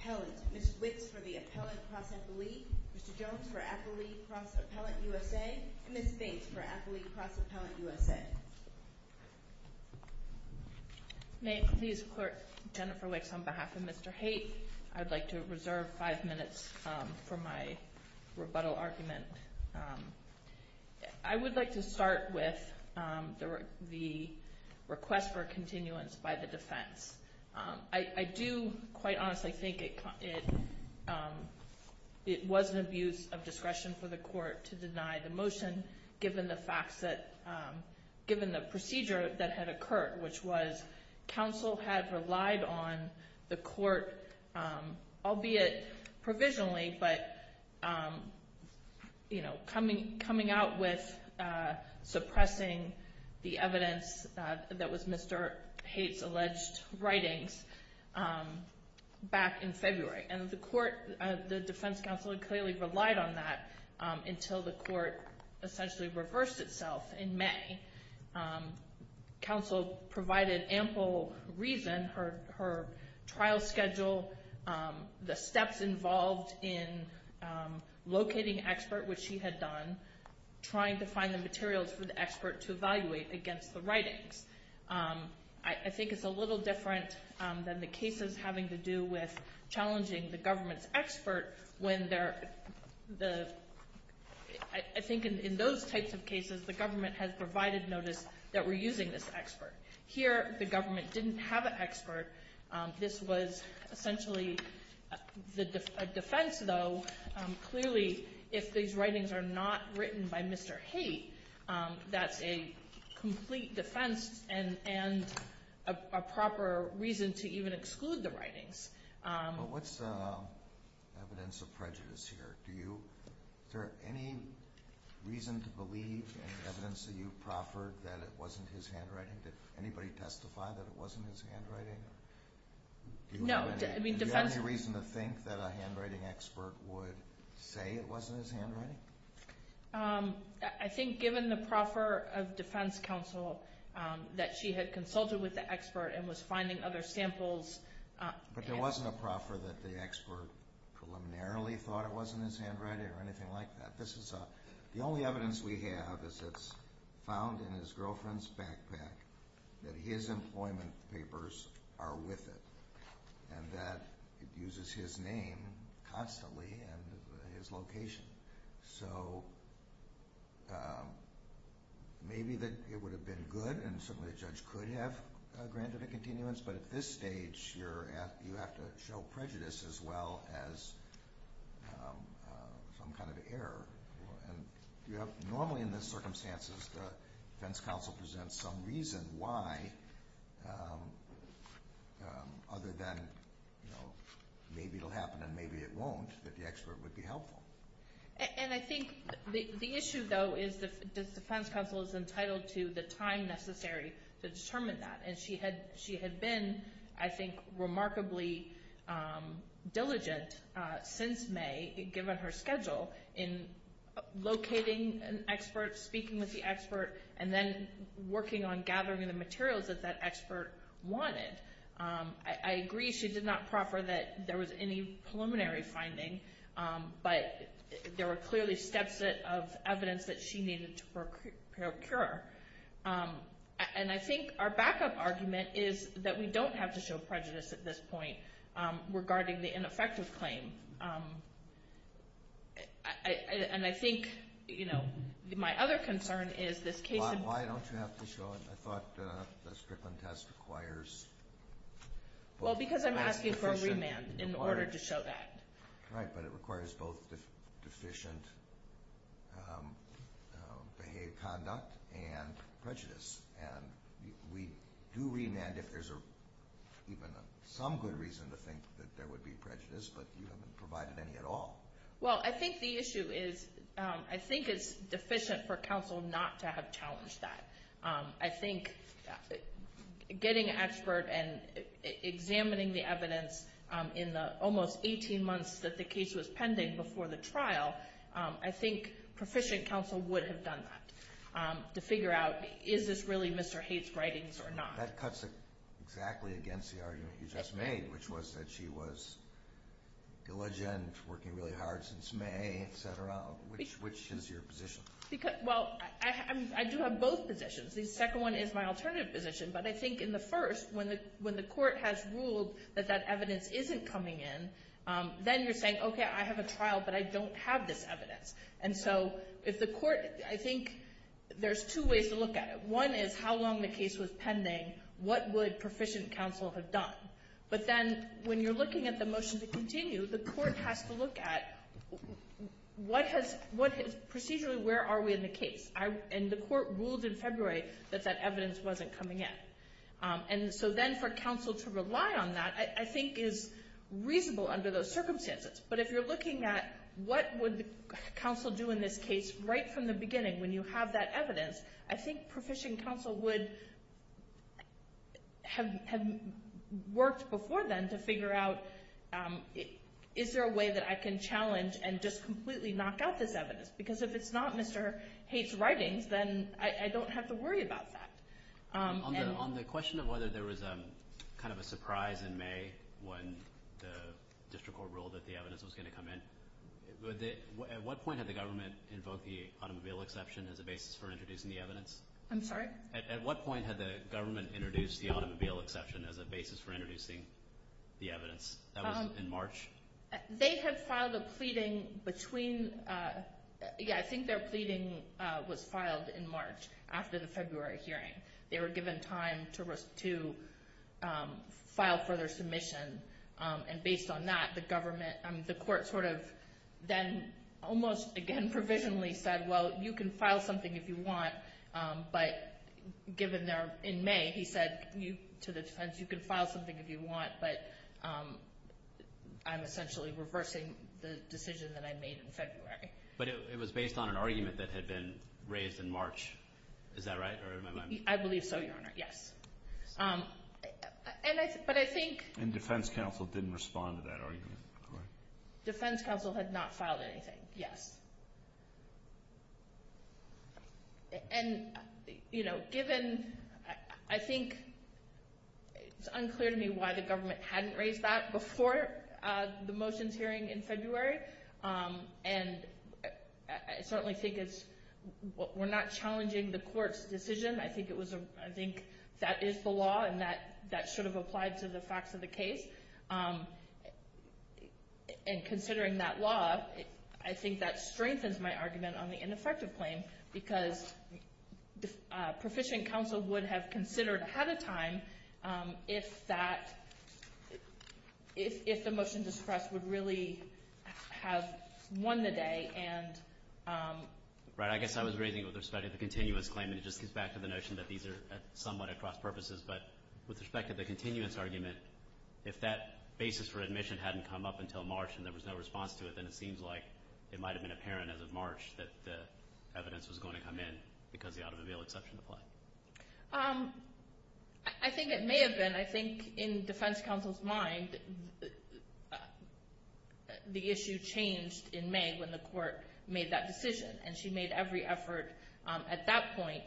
Appellant, Ms. Wicks for the Appellant-Cross-Appellee, Mr. Jones for Appellee-Cross-Appellant-USA and Ms. Bates for Appellee-Cross-Appellant-USA. May it please the Court, Jennifer Wicks on behalf of Mr. Haight, I would like to reserve five minutes for my rebuttal argument. I would like to start with the request for continuance by the defense. I do, quite honestly, think it was an abuse of discretion for the Court to deny the motion, given the procedure that had occurred, which was counsel had relied on the Court, albeit provisionally, but coming out with suppressing the evidence that was Mr. Haight's alleged writings back in February. And the defense counsel had clearly relied on that until the Court essentially reversed itself in May. Counsel provided ample reason, her trial schedule, the steps involved in locating expert, which she had done, trying to find the materials for the expert to evaluate against the writings. I think it's a little different than the cases having to do with challenging the government's expert when they're, I think in those types of cases, the government has provided notice that we're using this expert. Here, the government didn't have an expert. This was essentially a defense, though. Clearly, if these writings are not written by Mr. Haight, that's a complete defense and a proper reason to even exclude the writings. But what's the evidence of prejudice here? Is there any reason to believe in the evidence that you proffered that it wasn't his handwriting? Did anybody testify that it wasn't his handwriting? No. Do you have any reason to think that a handwriting expert would say it wasn't his handwriting? I think given the proffer of defense counsel that she had consulted with the expert and was finding other samples... But there wasn't a proffer that the expert preliminarily thought it wasn't his handwriting or anything like that. The only evidence we have is it's found in his girlfriend's backpack that his employment papers are with it and that it uses his name constantly and his location. So maybe it would have been good, and certainly a judge could have granted a continuance, but at this stage, you have to show prejudice as well as some kind of error. Normally in these circumstances, the defense counsel presents some reason why, other than maybe it will happen and maybe it won't, that the expert would be helpful. And I think the issue, though, is the defense counsel is entitled to the time necessary to determine that. And she had been, I think, remarkably diligent since May, given her schedule, in locating an expert, speaking with the expert, and then working on gathering the materials that that expert wanted. I agree she did not proffer that there was any preliminary finding, but there were clearly steps of evidence that she needed to procure. And I think our backup argument is that we don't have to show prejudice at this point regarding the ineffective claim. And I think, you know, my other concern is this case... Why don't you have to show it? I thought the Strickland test requires... Well, because I'm asking for a remand in order to show that. Right, but it requires both deficient behaved conduct and prejudice. And we do remand if there's even some good reason to think that there would be prejudice, but you haven't provided any at all. Well, I think the issue is, I think it's deficient for counsel not to have challenged that. I think getting an expert and examining the evidence in the almost 18 months that the case was pending before the trial, I think proficient counsel would have done that, to figure out, is this really Mr. Haight's writings or not? That cuts exactly against the argument you just made, which was that she was diligent, working really hard since May, etc. Which is your position? Well, I do have both positions. The second one is my alternative position. But I think in the first, when the court has ruled that that evidence isn't coming in, then you're saying, okay, I have a trial, but I don't have this evidence. And so if the court, I think there's two ways to look at it. One is how long the case was pending, what would proficient counsel have done? But then when you're looking at the motion to continue, the court has to look at, procedurally, where are we in the case? And the court ruled in February that that evidence wasn't coming in. And so then for counsel to rely on that, I think is reasonable under those circumstances. But if you're looking at what would counsel do in this case right from the beginning when you have that evidence, I think proficient counsel would have worked before then to figure out, is there a way that I can challenge and just completely knock out this evidence? Because if it's not Mr. Haight's writings, then I don't have to worry about that. On the question of whether there was kind of a surprise in May when the district court ruled that the evidence was going to come in, at what point had the government invoked the automobile exception as a basis for introducing the evidence? I'm sorry? At what point had the government introduced the automobile exception as a basis for introducing the evidence? That was in March? They had filed a pleading between – yeah, I think their pleading was filed in March after the February hearing. They were given time to file further submission. And based on that, the government – the court sort of then almost again provisionally said, well, you can file something if you want, but given they're in May, he said to the defense, you can file something if you want, but I'm essentially reversing the decision that I made in February. But it was based on an argument that had been raised in March, is that right? I believe so, Your Honor, yes. But I think – And defense counsel didn't respond to that argument, correct? Defense counsel had not filed anything, yes. And, you know, given – I think it's unclear to me why the government hadn't raised that before the motions hearing in February. And I certainly think it's – we're not challenging the court's decision. I think it was a – I think that is the law and that should have applied to the facts of the case. And considering that law, I think that strengthens my argument on the ineffective claim because proficient counsel would have considered ahead of time if that – if the motion to suppress would really have won the day. And – Right. I guess I was raising it with respect to the continuous claim, and it just gets back to the notion that these are somewhat at cross-purposes. But with respect to the continuous argument, if that basis for admission hadn't come up until March and there was no response to it, then it seems like it might have been apparent as of March that the evidence was going to come in because the out-of-the-veil exception applied. I think it may have been. I think in defense counsel's mind, the issue changed in May when the court made that decision. And she made every effort at that point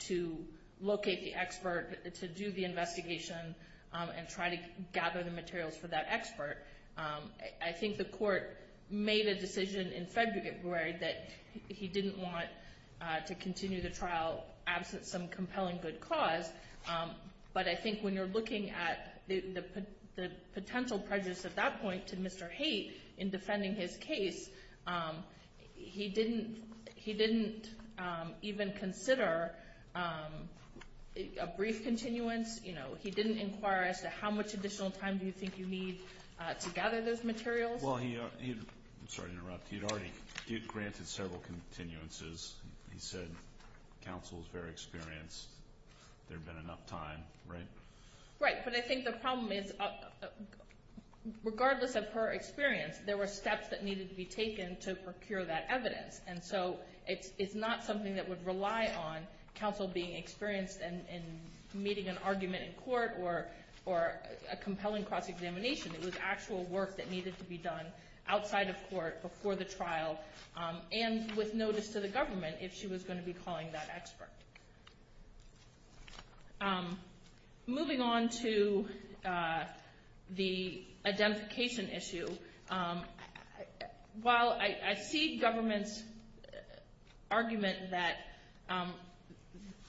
to locate the expert, to do the investigation, and try to gather the materials for that expert. I think the court made a decision in February that he didn't want to continue the trial absent some compelling good cause. But I think when you're looking at the potential prejudice at that point to Mr. Haight in defending his case, he didn't even consider a brief continuance. He didn't inquire as to how much additional time do you think you need to gather those materials. Well, he had already granted several continuances. He said counsel was very experienced. There had been enough time, right? Right. But I think the problem is regardless of her experience, there were steps that needed to be taken to procure that evidence. And so it's not something that would rely on counsel being experienced in meeting an argument in court or a compelling cross-examination. It was actual work that needed to be done outside of court before the trial and with notice to the government if she was going to be calling that expert. Moving on to the identification issue, while I see government's argument that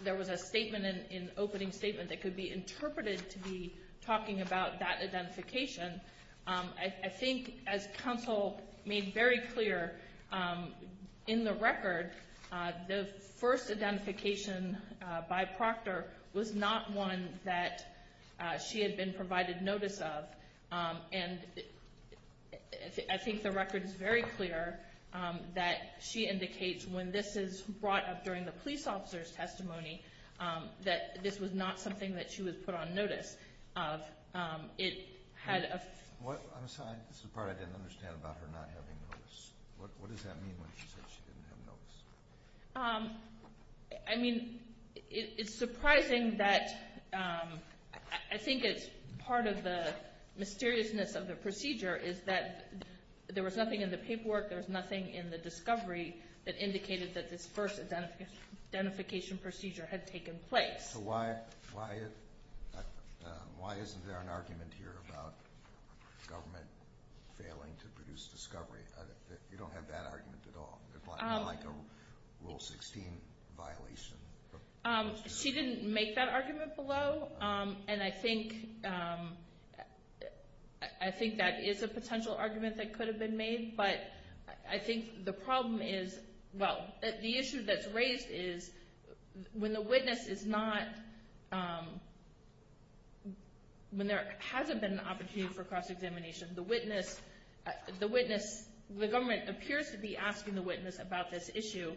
there was a statement, an opening statement that could be interpreted to be talking about that identification, I think as counsel made very clear in the record, the first identification by Proctor was not one that she had been provided notice of. And I think the record is very clear that she indicates when this is brought up during the police officer's testimony that this was not something that she was put on notice of. I'm sorry, this is the part I didn't understand about her not having notice. What does that mean when she said she didn't have notice? I mean, it's surprising that I think it's part of the mysteriousness of the procedure is that there was nothing in the paperwork, there was nothing in the discovery that indicated that this first identification procedure had taken place. So why isn't there an argument here about government failing to produce discovery? You don't have that argument at all, like a Rule 16 violation. She didn't make that argument below, and I think that is a potential argument that could have been made, but I think the problem is, well, the issue that's raised is when the witness is not, when there hasn't been an opportunity for cross-examination, the witness, the government appears to be asking the witness about this issue,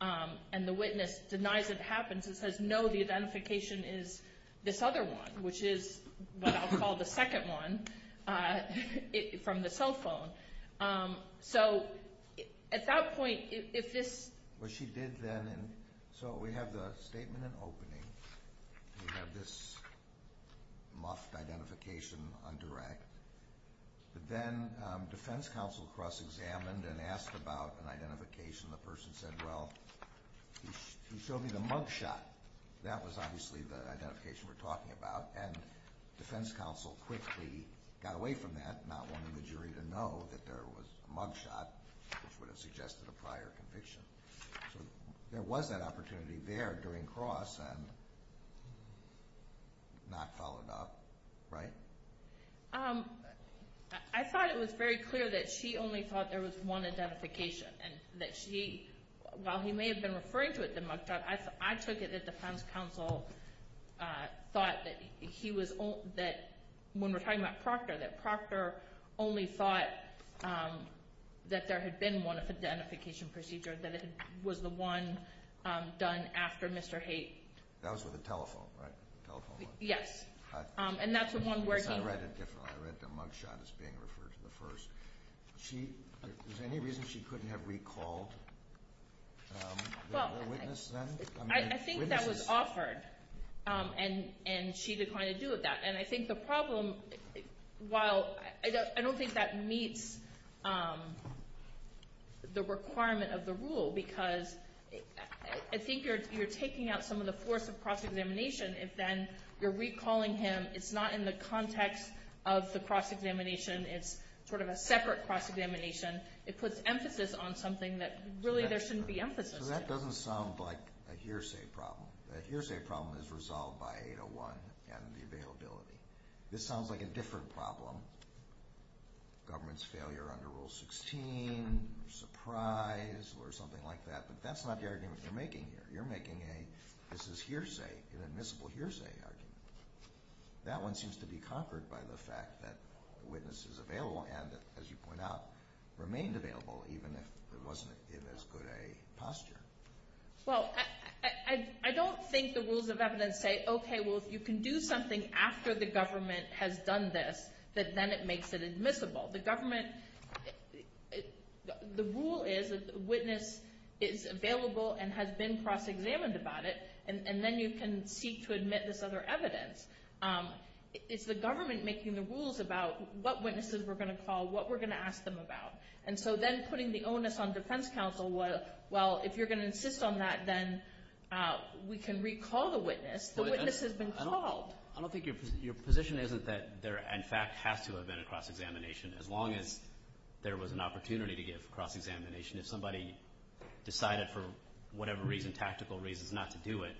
and the witness denies it happened, and says, no, the identification is this other one, which is what I'll call the second one, from the cell phone. So at that point, if this... Well, she did then, and so we have the statement in opening, and we have this muffed identification on direct, but then defense counsel cross-examined and asked about an identification, and the person said, well, he showed me the mug shot. That was obviously the identification we're talking about, and defense counsel quickly got away from that, not wanting the jury to know that there was a mug shot, which would have suggested a prior conviction. So there was that opportunity there during cross, and not followed up, right? I thought it was very clear that she only thought there was one identification, and that she, while he may have been referring to it, the mug shot, I took it that defense counsel thought that he was, when we're talking about Proctor, that Proctor only thought that there had been one identification procedure, that it was the one done after Mr. Haight. That was with a telephone, right? Yes, and that's the one where he... I read it differently. I read the mug shot as being referred to the first. Was there any reason she couldn't have recalled the witness then? I think that was offered, and she declined to do that. And I think the problem, while I don't think that meets the requirement of the rule, because I think you're taking out some of the force of cross-examination. If then you're recalling him, it's not in the context of the cross-examination. It's sort of a separate cross-examination. It puts emphasis on something that really there shouldn't be emphasis on. So that doesn't sound like a hearsay problem. A hearsay problem is resolved by 801 and the availability. This sounds like a different problem. Government's failure under Rule 16, surprise, or something like that. But that's not the argument you're making here. You're making a, this is hearsay, an admissible hearsay argument. That one seems to be conquered by the fact that the witness is available and, as you point out, remained available even if it wasn't in as good a posture. Well, I don't think the rules of evidence say, okay, well, you can do something after the government has done this, but then it makes it admissible. The government, the rule is that the witness is available and has been cross-examined about it, and then you can seek to admit this other evidence. It's the government making the rules about what witnesses we're going to call, what we're going to ask them about. And so then putting the onus on defense counsel, well, if you're going to insist on that, then we can recall the witness. The witness has been called. I don't think your position is that there, in fact, has to have been a cross-examination. As long as there was an opportunity to give cross-examination, if somebody decided for whatever reason, tactical reasons, not to do it,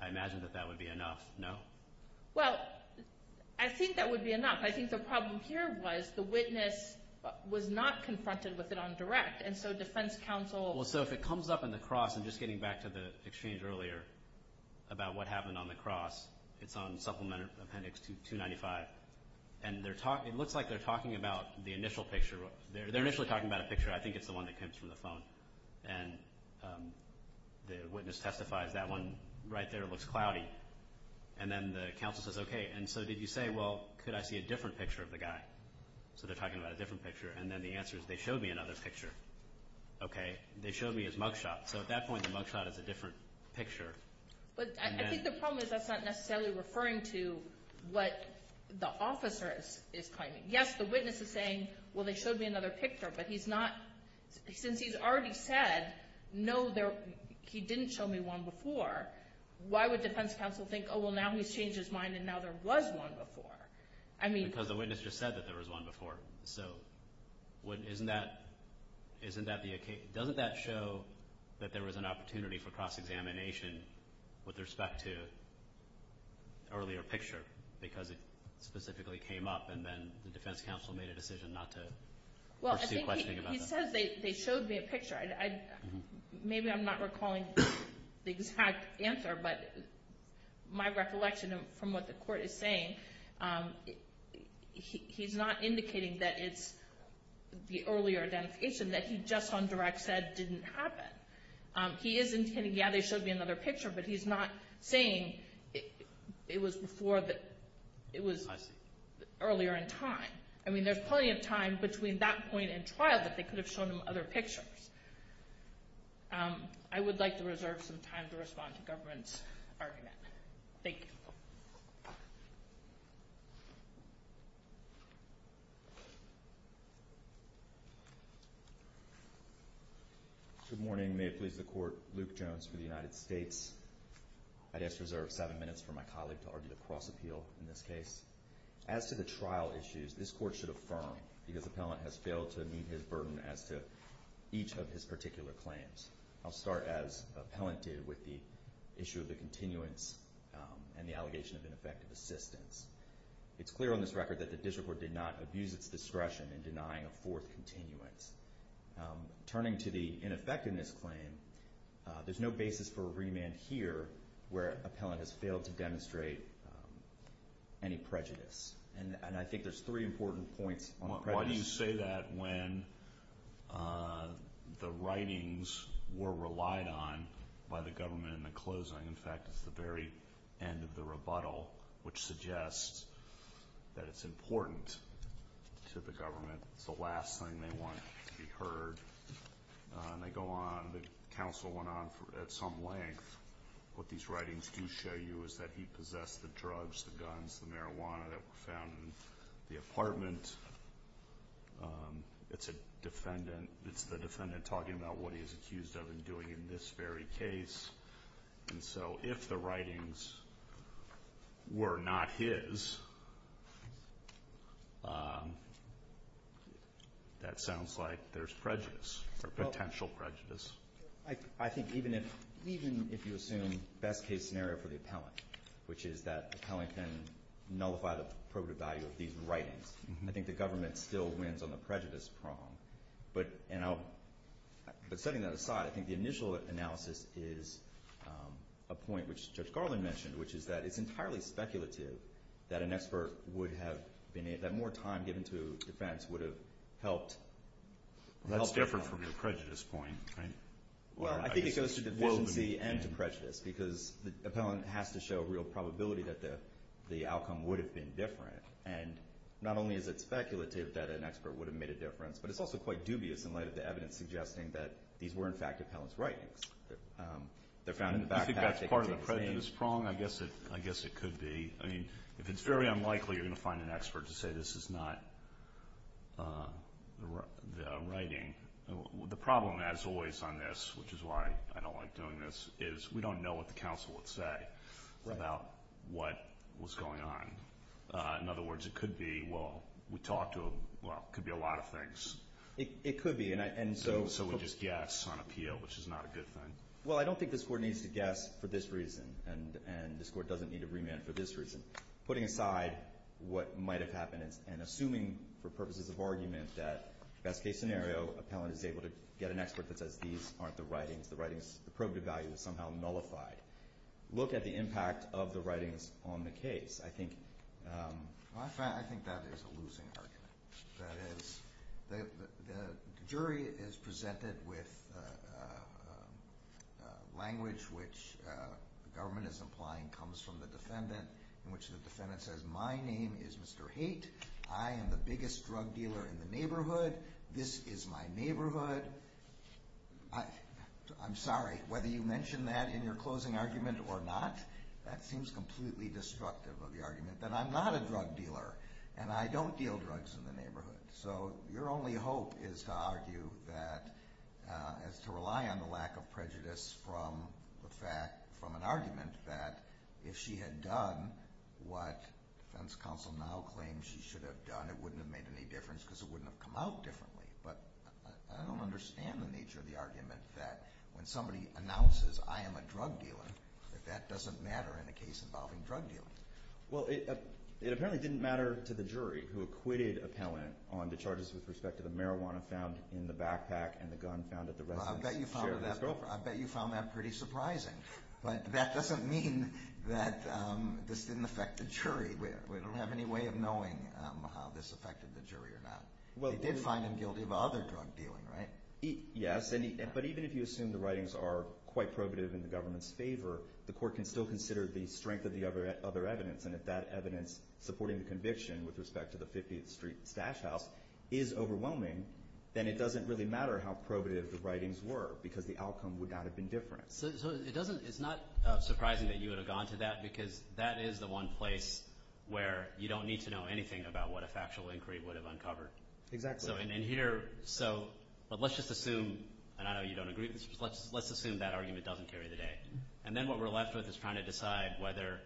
I imagine that that would be enough, no? Well, I think that would be enough. I think the problem here was the witness was not confronted with it on direct, and so defense counsel— Well, so if it comes up in the cross, and just getting back to the exchange earlier about what happened on the cross, it's on Supplement Appendix 295, and it looks like they're talking about the initial picture. They're initially talking about a picture. I think it's the one that comes from the phone, and the witness testifies that one right there looks cloudy. And then the counsel says, okay, and so did you say, well, could I see a different picture of the guy? So they're talking about a different picture, and then the answer is they showed me another picture. Okay. They showed me his mugshot. So at that point, the mugshot is a different picture. But I think the problem is that's not necessarily referring to what the officer is claiming. Yes, the witness is saying, well, they showed me another picture, but he's not— since he's already said, no, he didn't show me one before, why would defense counsel think, oh, well, now he's changed his mind and now there was one before? Because the witness just said that there was one before. So isn't that the occasion? Doesn't that show that there was an opportunity for cross-examination with respect to earlier picture because it specifically came up and then the defense counsel made a decision not to pursue questioning about that? Well, I think he says they showed me a picture. Maybe I'm not recalling the exact answer, but my recollection from what the court is saying, he's not indicating that it's the earlier identification that he just on direct said didn't happen. He is intending, yeah, they showed me another picture, but he's not saying it was earlier in time. I mean, there's plenty of time between that point and trial that they could have shown him other pictures. I would like to reserve some time to respond to the government's argument. Thank you. Good morning. May it please the Court. Luke Jones for the United States. I just reserve seven minutes for my colleague to argue the cross-appeal in this case. As to the trial issues, this Court should affirm, because appellant has failed to meet his burden as to each of his particular claims. I'll start, as appellant did, with the issue of the continuance and the allegation of ineffective assistance. It's clear on this record that the district court did not abuse its discretion in denying a fourth continuance. Turning to the ineffectiveness claim, there's no basis for a remand here where appellant has failed to demonstrate any prejudice. And I think there's three important points on prejudice. Why do you say that when the writings were relied on by the government in the closing? In fact, it's the very end of the rebuttal, which suggests that it's important to the government. It's the last thing they want to be heard, and they go on. The counsel went on at some length. What these writings do show you is that he possessed the drugs, the guns, the marijuana that were found in the apartment. It's the defendant talking about what he is accused of in doing in this very case. And so if the writings were not his, that sounds like there's prejudice or potential prejudice. I think even if you assume best-case scenario for the appellant, which is that appellant can nullify the probative value of these writings, I think the government still wins on the prejudice prong. But setting that aside, I think the initial analysis is a point which Judge Garland mentioned, which is that it's entirely speculative that an expert would have been able to have more time given to defense would have helped. That's different from the prejudice point, right? Well, I think it goes to deficiency and to prejudice, because the appellant has to show real probability that the outcome would have been different. And not only is it speculative that an expert would have made a difference, but it's also quite dubious in light of the evidence suggesting that these were, in fact, appellant's writings. They're found in the backpack. Do you think that's part of the prejudice prong? I guess it could be. I mean, if it's very unlikely you're going to find an expert to say this is not the writing. The problem, as always on this, which is why I don't like doing this, is we don't know what the counsel would say about what was going on. In other words, it could be, well, we talked to him. Well, it could be a lot of things. It could be. So we just guess on appeal, which is not a good thing. Well, I don't think this Court needs to guess for this reason, and this Court doesn't need to remand for this reason. Putting aside what might have happened and assuming for purposes of argument that best-case scenario, appellant is able to get an expert that says these aren't the writings. The writing's probative value is somehow nullified. Look at the impact of the writings on the case. I think that is a losing argument. That is, the jury is presented with language which the government is implying comes from the defendant, in which the defendant says, my name is Mr. Haight. I am the biggest drug dealer in the neighborhood. This is my neighborhood. I'm sorry, whether you mentioned that in your closing argument or not, that seems completely destructive of the argument, that I'm not a drug dealer and I don't deal drugs in the neighborhood. So your only hope is to argue that, is to rely on the lack of prejudice from an argument that if she had done what defense counsel now claims she should have done, it wouldn't have made any difference because it wouldn't have come out differently. But I don't understand the nature of the argument that when somebody announces, I am a drug dealer, that that doesn't matter in a case involving drug dealing. Well, it apparently didn't matter to the jury who acquitted Appellant on the charges with respect to the marijuana found in the backpack and the gun found at the residence. I bet you found that pretty surprising. But that doesn't mean that this didn't affect the jury. We don't have any way of knowing how this affected the jury or not. They did find him guilty of other drug dealing, right? Yes, but even if you assume the writings are quite probative in the government's favor, the court can still consider the strength of the other evidence. And if that evidence supporting the conviction with respect to the 50th Street Stash House is overwhelming, then it doesn't really matter how probative the writings were because the outcome would not have been different. So it's not surprising that you would have gone to that because that is the one place where you don't need to know anything about what a factual inquiry would have uncovered. Exactly. So let's just assume, and I know you don't agree with this, but let's assume that argument doesn't carry the day. And then what we're left with is trying to decide whether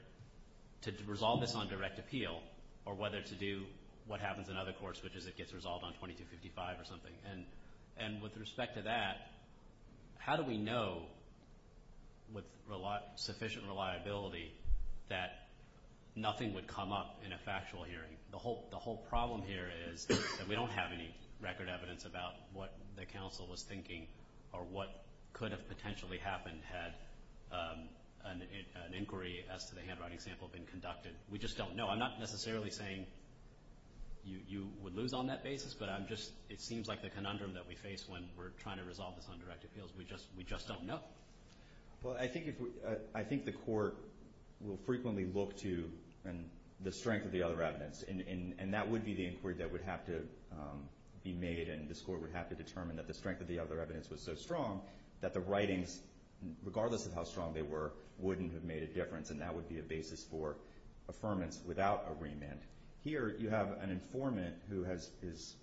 to resolve this on direct appeal or whether to do what happens in other courts, which is it gets resolved on 2255 or something. And with respect to that, how do we know with sufficient reliability that nothing would come up in a factual hearing? The whole problem here is that we don't have any record evidence about what the counsel was thinking or what could have potentially happened had an inquiry as to the handwriting sample been conducted. We just don't know. I'm not necessarily saying you would lose on that basis, but it seems like the conundrum that we face when we're trying to resolve this on direct appeals. We just don't know. Well, I think the court will frequently look to the strength of the other evidence, and that would be the inquiry that would have to be made and this court would have to determine that the strength of the other evidence was so strong that the writings, regardless of how strong they were, wouldn't have made a difference, and that would be a basis for affirmance without a remand. Here you have an informant who is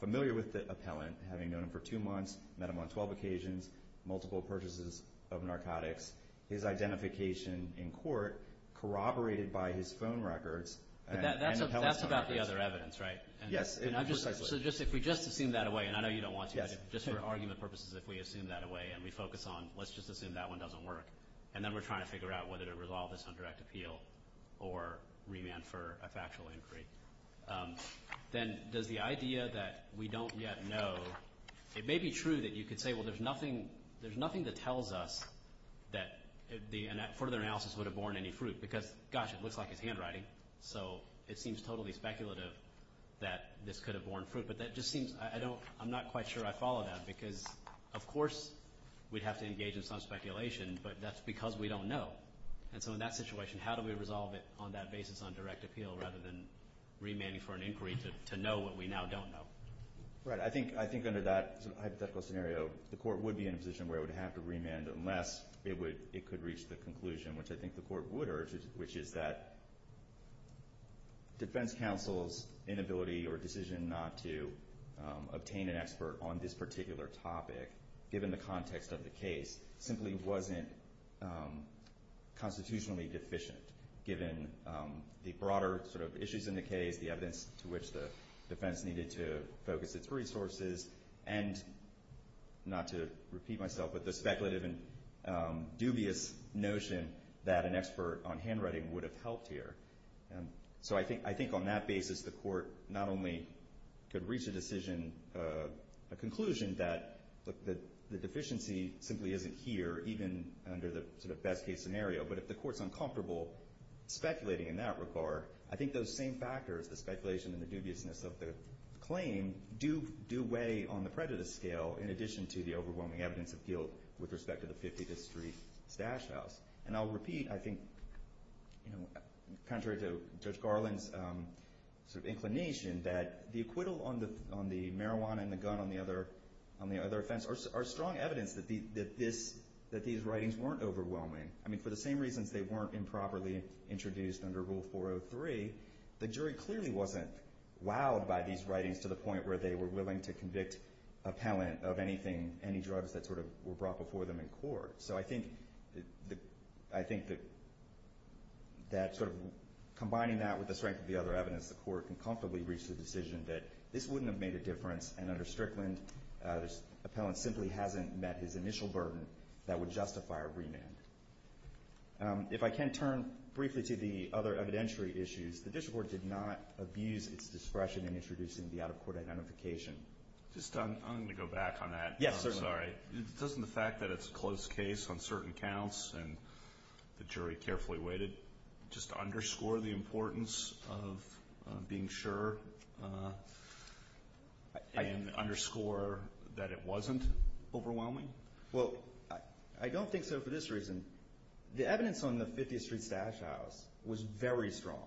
familiar with the appellant, having known him for two months, met him on 12 occasions, multiple purchases of narcotics, his identification in court corroborated by his phone records. That's about the other evidence, right? Yes. So if we just assume that away, and I know you don't want to, but just for argument purposes, if we assume that away and we focus on let's just assume that one doesn't work and then we're trying to figure out whether to resolve this on direct appeal or remand for a factual inquiry, then does the idea that we don't yet know, it may be true that you could say, well, there's nothing that tells us that further analysis would have borne any fruit, because gosh, it looks like it's handwriting, so it seems totally speculative that this could have borne fruit, but that just seems, I don't, I'm not quite sure I follow that, because of course we'd have to engage in some speculation, but that's because we don't know, and so in that situation, how do we resolve it on that basis on direct appeal rather than remanding for an inquiry to know what we now don't know? Right. I think under that hypothetical scenario, the court would be in a position where it would have to remand unless it could reach the conclusion, which I think the court would urge, which is that defense counsel's inability or decision not to obtain an expert on this particular topic given the context of the case simply wasn't constitutionally deficient, given the broader sort of issues in the case, the evidence to which the defense needed to focus its resources, and not to repeat myself, but the speculative and dubious notion that an expert on handwriting would have helped here. So I think on that basis, the court not only could reach a decision, a conclusion, that the deficiency simply isn't here, even under the sort of best case scenario, but if the court's uncomfortable speculating in that regard, I think those same factors, the speculation and the dubiousness of the claim, do weigh on the prejudice scale in addition to the overwhelming evidence of guilt with respect to the 50th Street stash house. And I'll repeat, I think, contrary to Judge Garland's sort of inclination, that the acquittal on the marijuana and the gun on the other offense are strong evidence that these writings weren't overwhelming. I mean, for the same reasons they weren't improperly introduced under Rule 403, the jury clearly wasn't wowed by these writings to the point where they were willing to convict appellant of anything, any drugs that sort of were brought before them in court. So I think that combining that with the strength of the other evidence, the court can comfortably reach the decision that this wouldn't have made a difference, and under Strickland, the appellant simply hasn't met his initial burden that would justify a remand. If I can turn briefly to the other evidentiary issues, the district court did not abuse its discretion in introducing the out-of-court identification. I'm going to go back on that. Yes, certainly. Sorry. Doesn't the fact that it's a closed case on certain counts and the jury carefully weighted just underscore the importance of being sure and underscore that it wasn't overwhelming? Well, I don't think so for this reason. The evidence on the 50th Street stash house was very strong.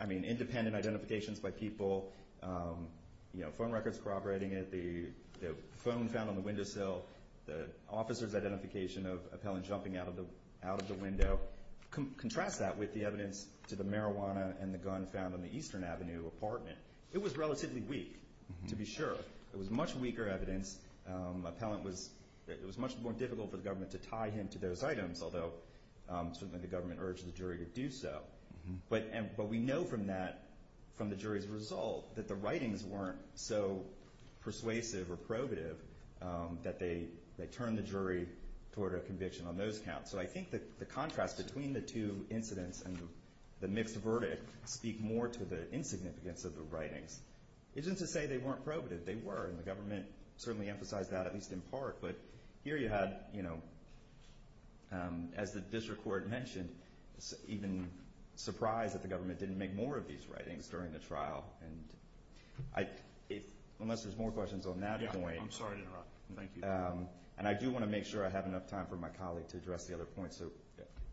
I mean, independent identifications by people, phone records corroborating it, the phone found on the windowsill, the officer's identification of appellant jumping out of the window, contrast that with the evidence to the marijuana and the gun found on the Eastern Avenue apartment. It was relatively weak, to be sure. It was much weaker evidence. Appellant was much more difficult for the government to tie him to those items, although certainly the government urged the jury to do so. But we know from that, from the jury's result, that the writings weren't so persuasive or probative that they turned the jury toward a conviction on those counts. So I think the contrast between the two incidents and the mixed verdict speak more to the insignificance of the writings. It isn't to say they weren't probative. They were, and the government certainly emphasized that, at least in part. But here you had, you know, as the district court mentioned, even surprised that the government didn't make more of these writings during the trial. Unless there's more questions on that point. I'm sorry to interrupt. Thank you. And I do want to make sure I have enough time for my colleague to address the other points. So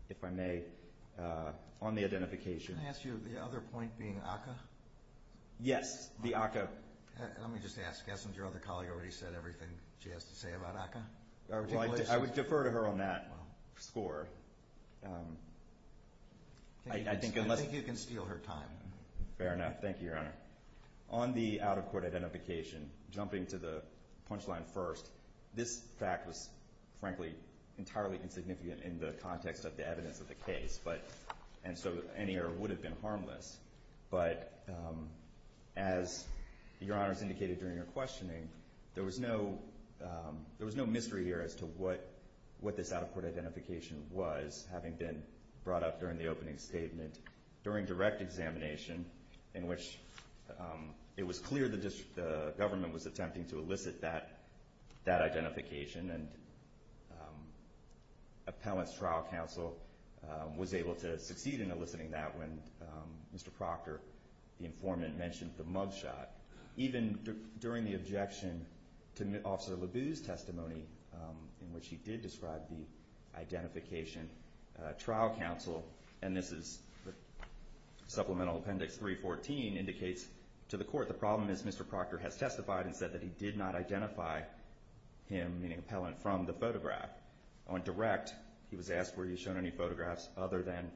if I may, on the identification. Yes, the ACCA. Let me just ask, hasn't your other colleague already said everything she has to say about ACCA? I would defer to her on that score. I think you can steal her time. Fair enough. Thank you, Your Honor. On the out-of-court identification, jumping to the punchline first, this fact was, frankly, entirely insignificant in the context of the evidence of the case. And so any error would have been harmless. But as Your Honor has indicated during your questioning, there was no mystery here as to what this out-of-court identification was, having been brought up during the opening statement during direct examination, in which it was clear the government was attempting to elicit that identification. And Appellant's Trial Counsel was able to succeed in eliciting that when Mr. Proctor, the informant, mentioned the mug shot. Even during the objection to Officer LeBue's testimony, in which he did describe the identification, Trial Counsel, and this is Supplemental Appendix 314, indicates to the Court the problem is Mr. Proctor has testified and said that he did not identify him, meaning Appellant, from the photograph. On direct, he was asked were he shown any photographs other than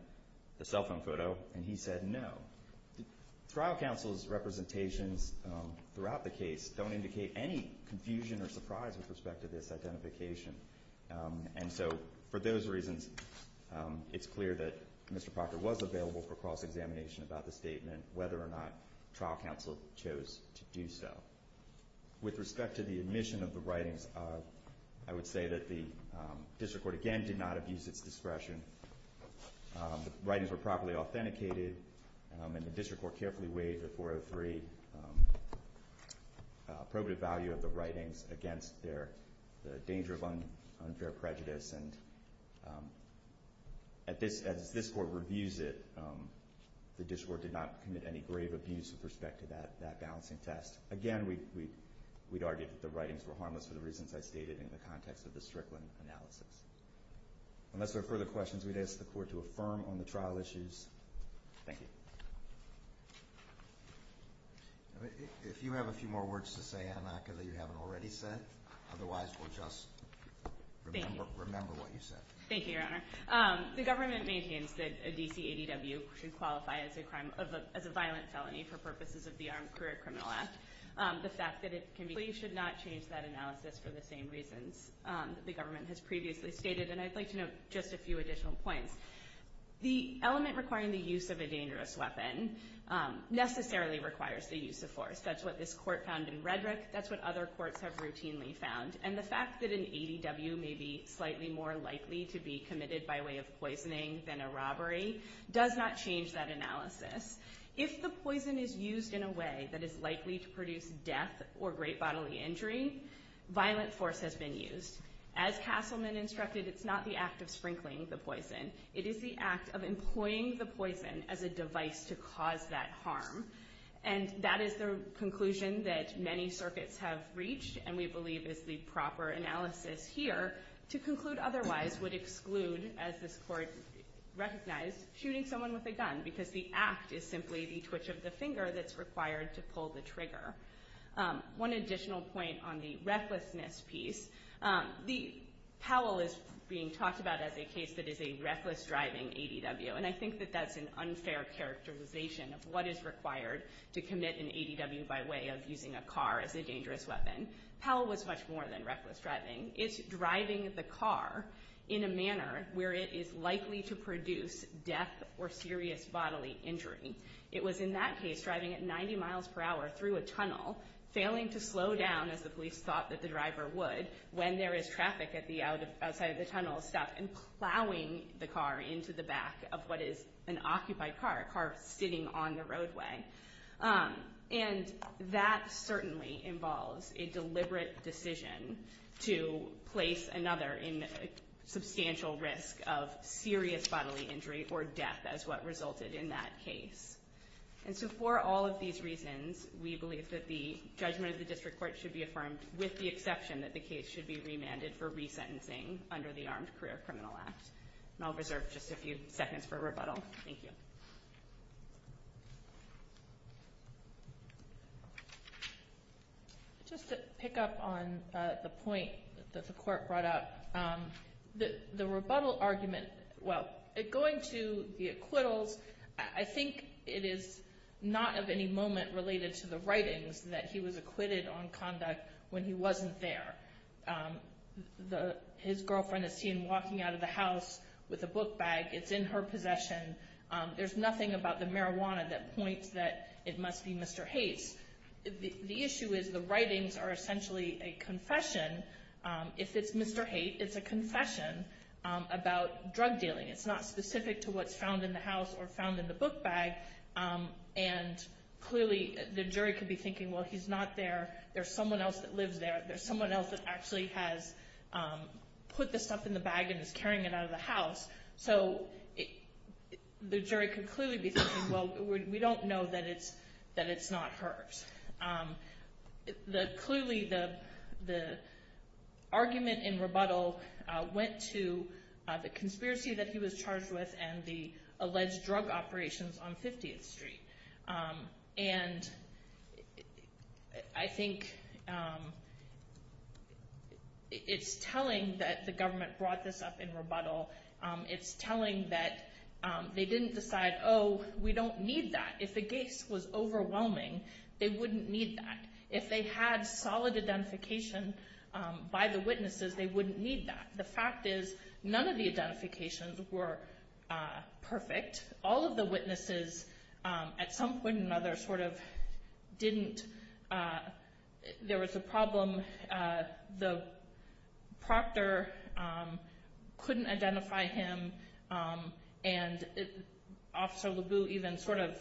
the cell phone photo, and he said no. Trial Counsel's representations throughout the case don't indicate any confusion or surprise with respect to this identification. And so for those reasons, it's clear that Mr. Proctor was available for cross-examination about the statement, whether or not Trial Counsel chose to do so. With respect to the admission of the writings, I would say that the District Court, again, did not abuse its discretion. The writings were properly authenticated, and the District Court carefully weighed the 403 appropriate value of the writings against the danger of unfair prejudice. And as this Court reviews it, the District Court did not commit any grave abuse with respect to that balancing test. Again, we'd argue that the writings were harmless for the reasons I stated in the context of the Strickland analysis. Unless there are further questions, we'd ask the Court to affirm on the trial issues. Thank you. If you have a few more words to say, Anaka, that you haven't already said, otherwise we'll just remember what you said. Thank you, Your Honor. The government maintains that a D.C. ADW should qualify as a violent felony for purposes of the Armed Career Criminal Act. The fact that it can be a felony should not change that analysis for the same reasons that the government has previously stated. And I'd like to note just a few additional points. The element requiring the use of a dangerous weapon necessarily requires the use of force. That's what this Court found in Redrick. That's what other courts have routinely found. And the fact that an ADW may be slightly more likely to be committed by way of poisoning than a robbery does not change that analysis. If the poison is used in a way that is likely to produce death or great bodily injury, violent force has been used. As Castleman instructed, it's not the act of sprinkling the poison. It is the act of employing the poison as a device to cause that harm. And that is the conclusion that many circuits have reached and we believe is the proper analysis here. To conclude otherwise would exclude, as this Court recognized, shooting someone with a gun because the act is simply the twitch of the finger that's required to pull the trigger. One additional point on the recklessness piece, Powell is being talked about as a case that is a reckless driving ADW, and I think that that's an unfair characterization of what is required to commit an ADW by way of using a car as a dangerous weapon. Powell was much more than reckless driving. It's driving the car in a manner where it is likely to produce death or serious bodily injury. It was in that case driving at 90 miles per hour through a tunnel, failing to slow down as the police thought that the driver would when there is traffic outside of the tunnel, and plowing the car into the back of what is an occupied car, a car sitting on the roadway. And that certainly involves a deliberate decision to place another in substantial risk of serious bodily injury or death as what resulted in that case. And so for all of these reasons, we believe that the judgment of the District Court should be affirmed with the exception that the case should be remanded for resentencing under the Armed Career Criminal Act. And I'll reserve just a few seconds for rebuttal. Thank you. Just to pick up on the point that the Court brought up, the rebuttal argument, well, going to the acquittals, I think it is not of any moment related to the writings that he was acquitted on conduct when he wasn't there. His girlfriend is seen walking out of the house with a book bag. It's in her possession. There's nothing about the marijuana that points that it must be Mr. Haight's. The issue is the writings are essentially a confession. If it's Mr. Haight, it's a confession about drug dealing. It's not specific to what's found in the house or found in the book bag. And clearly the jury could be thinking, well, he's not there. There's someone else that lives there. There's someone else that actually has put the stuff in the bag and is carrying it out of the house. So the jury could clearly be thinking, well, we don't know that it's not hers. Clearly the argument in rebuttal went to the conspiracy that he was charged with and the alleged drug operations on 50th Street. And I think it's telling that the government brought this up in rebuttal. It's telling that they didn't decide, oh, we don't need that. If the case was overwhelming, they wouldn't need that. If they had solid identification by the witnesses, they wouldn't need that. The fact is none of the identifications were perfect. All of the witnesses at some point or another sort of didn't. There was a problem. The proctor couldn't identify him, and Officer LeBue even sort of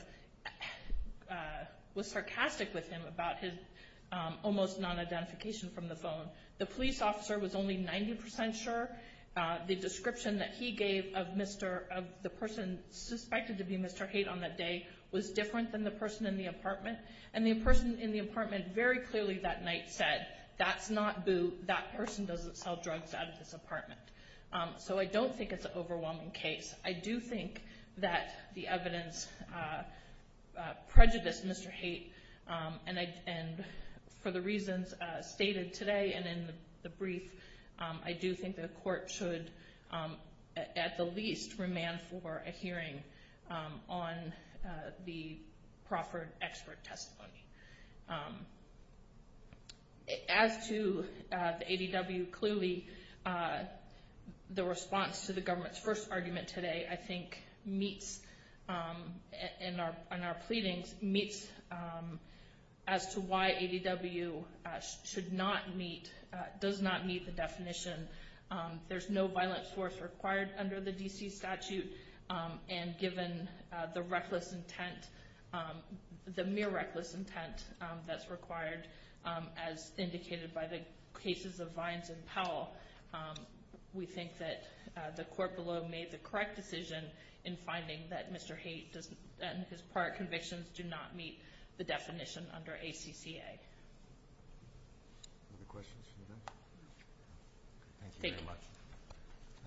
was sarcastic with him about his almost non-identification from the phone. The police officer was only 90% sure. The description that he gave of the person suspected to be Mr. Haight on that day was different than the person in the apartment. And the person in the apartment very clearly that night said, that's not Boo, that person doesn't sell drugs out of this apartment. So I don't think it's an overwhelming case. I do think that the evidence prejudiced Mr. Haight, and for the reasons stated today and in the brief, I do think the court should, at the least, remand for a hearing on the proffered expert testimony. As to the ADW, clearly the response to the government's first argument today, I think meets, in our pleadings, meets as to why ADW should not meet, does not meet the definition. There's no violent force required under the D.C. statute, and given the reckless intent, the mere reckless intent that's required, as indicated by the cases of Vines and Powell, we think that the court below made the correct decision in finding that Mr. Haight and his prior convictions do not meet the definition under ACCA. Other questions from the room? Thank you very much.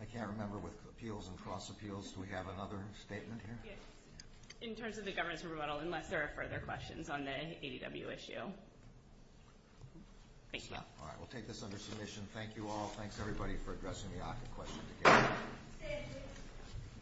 I can't remember with appeals and cross appeals, do we have another statement here? In terms of the government's rebuttal, unless there are further questions on the ADW issue. Thank you. All right, we'll take this under submission. Thank you all. Thanks, everybody, for addressing the ACCA question today.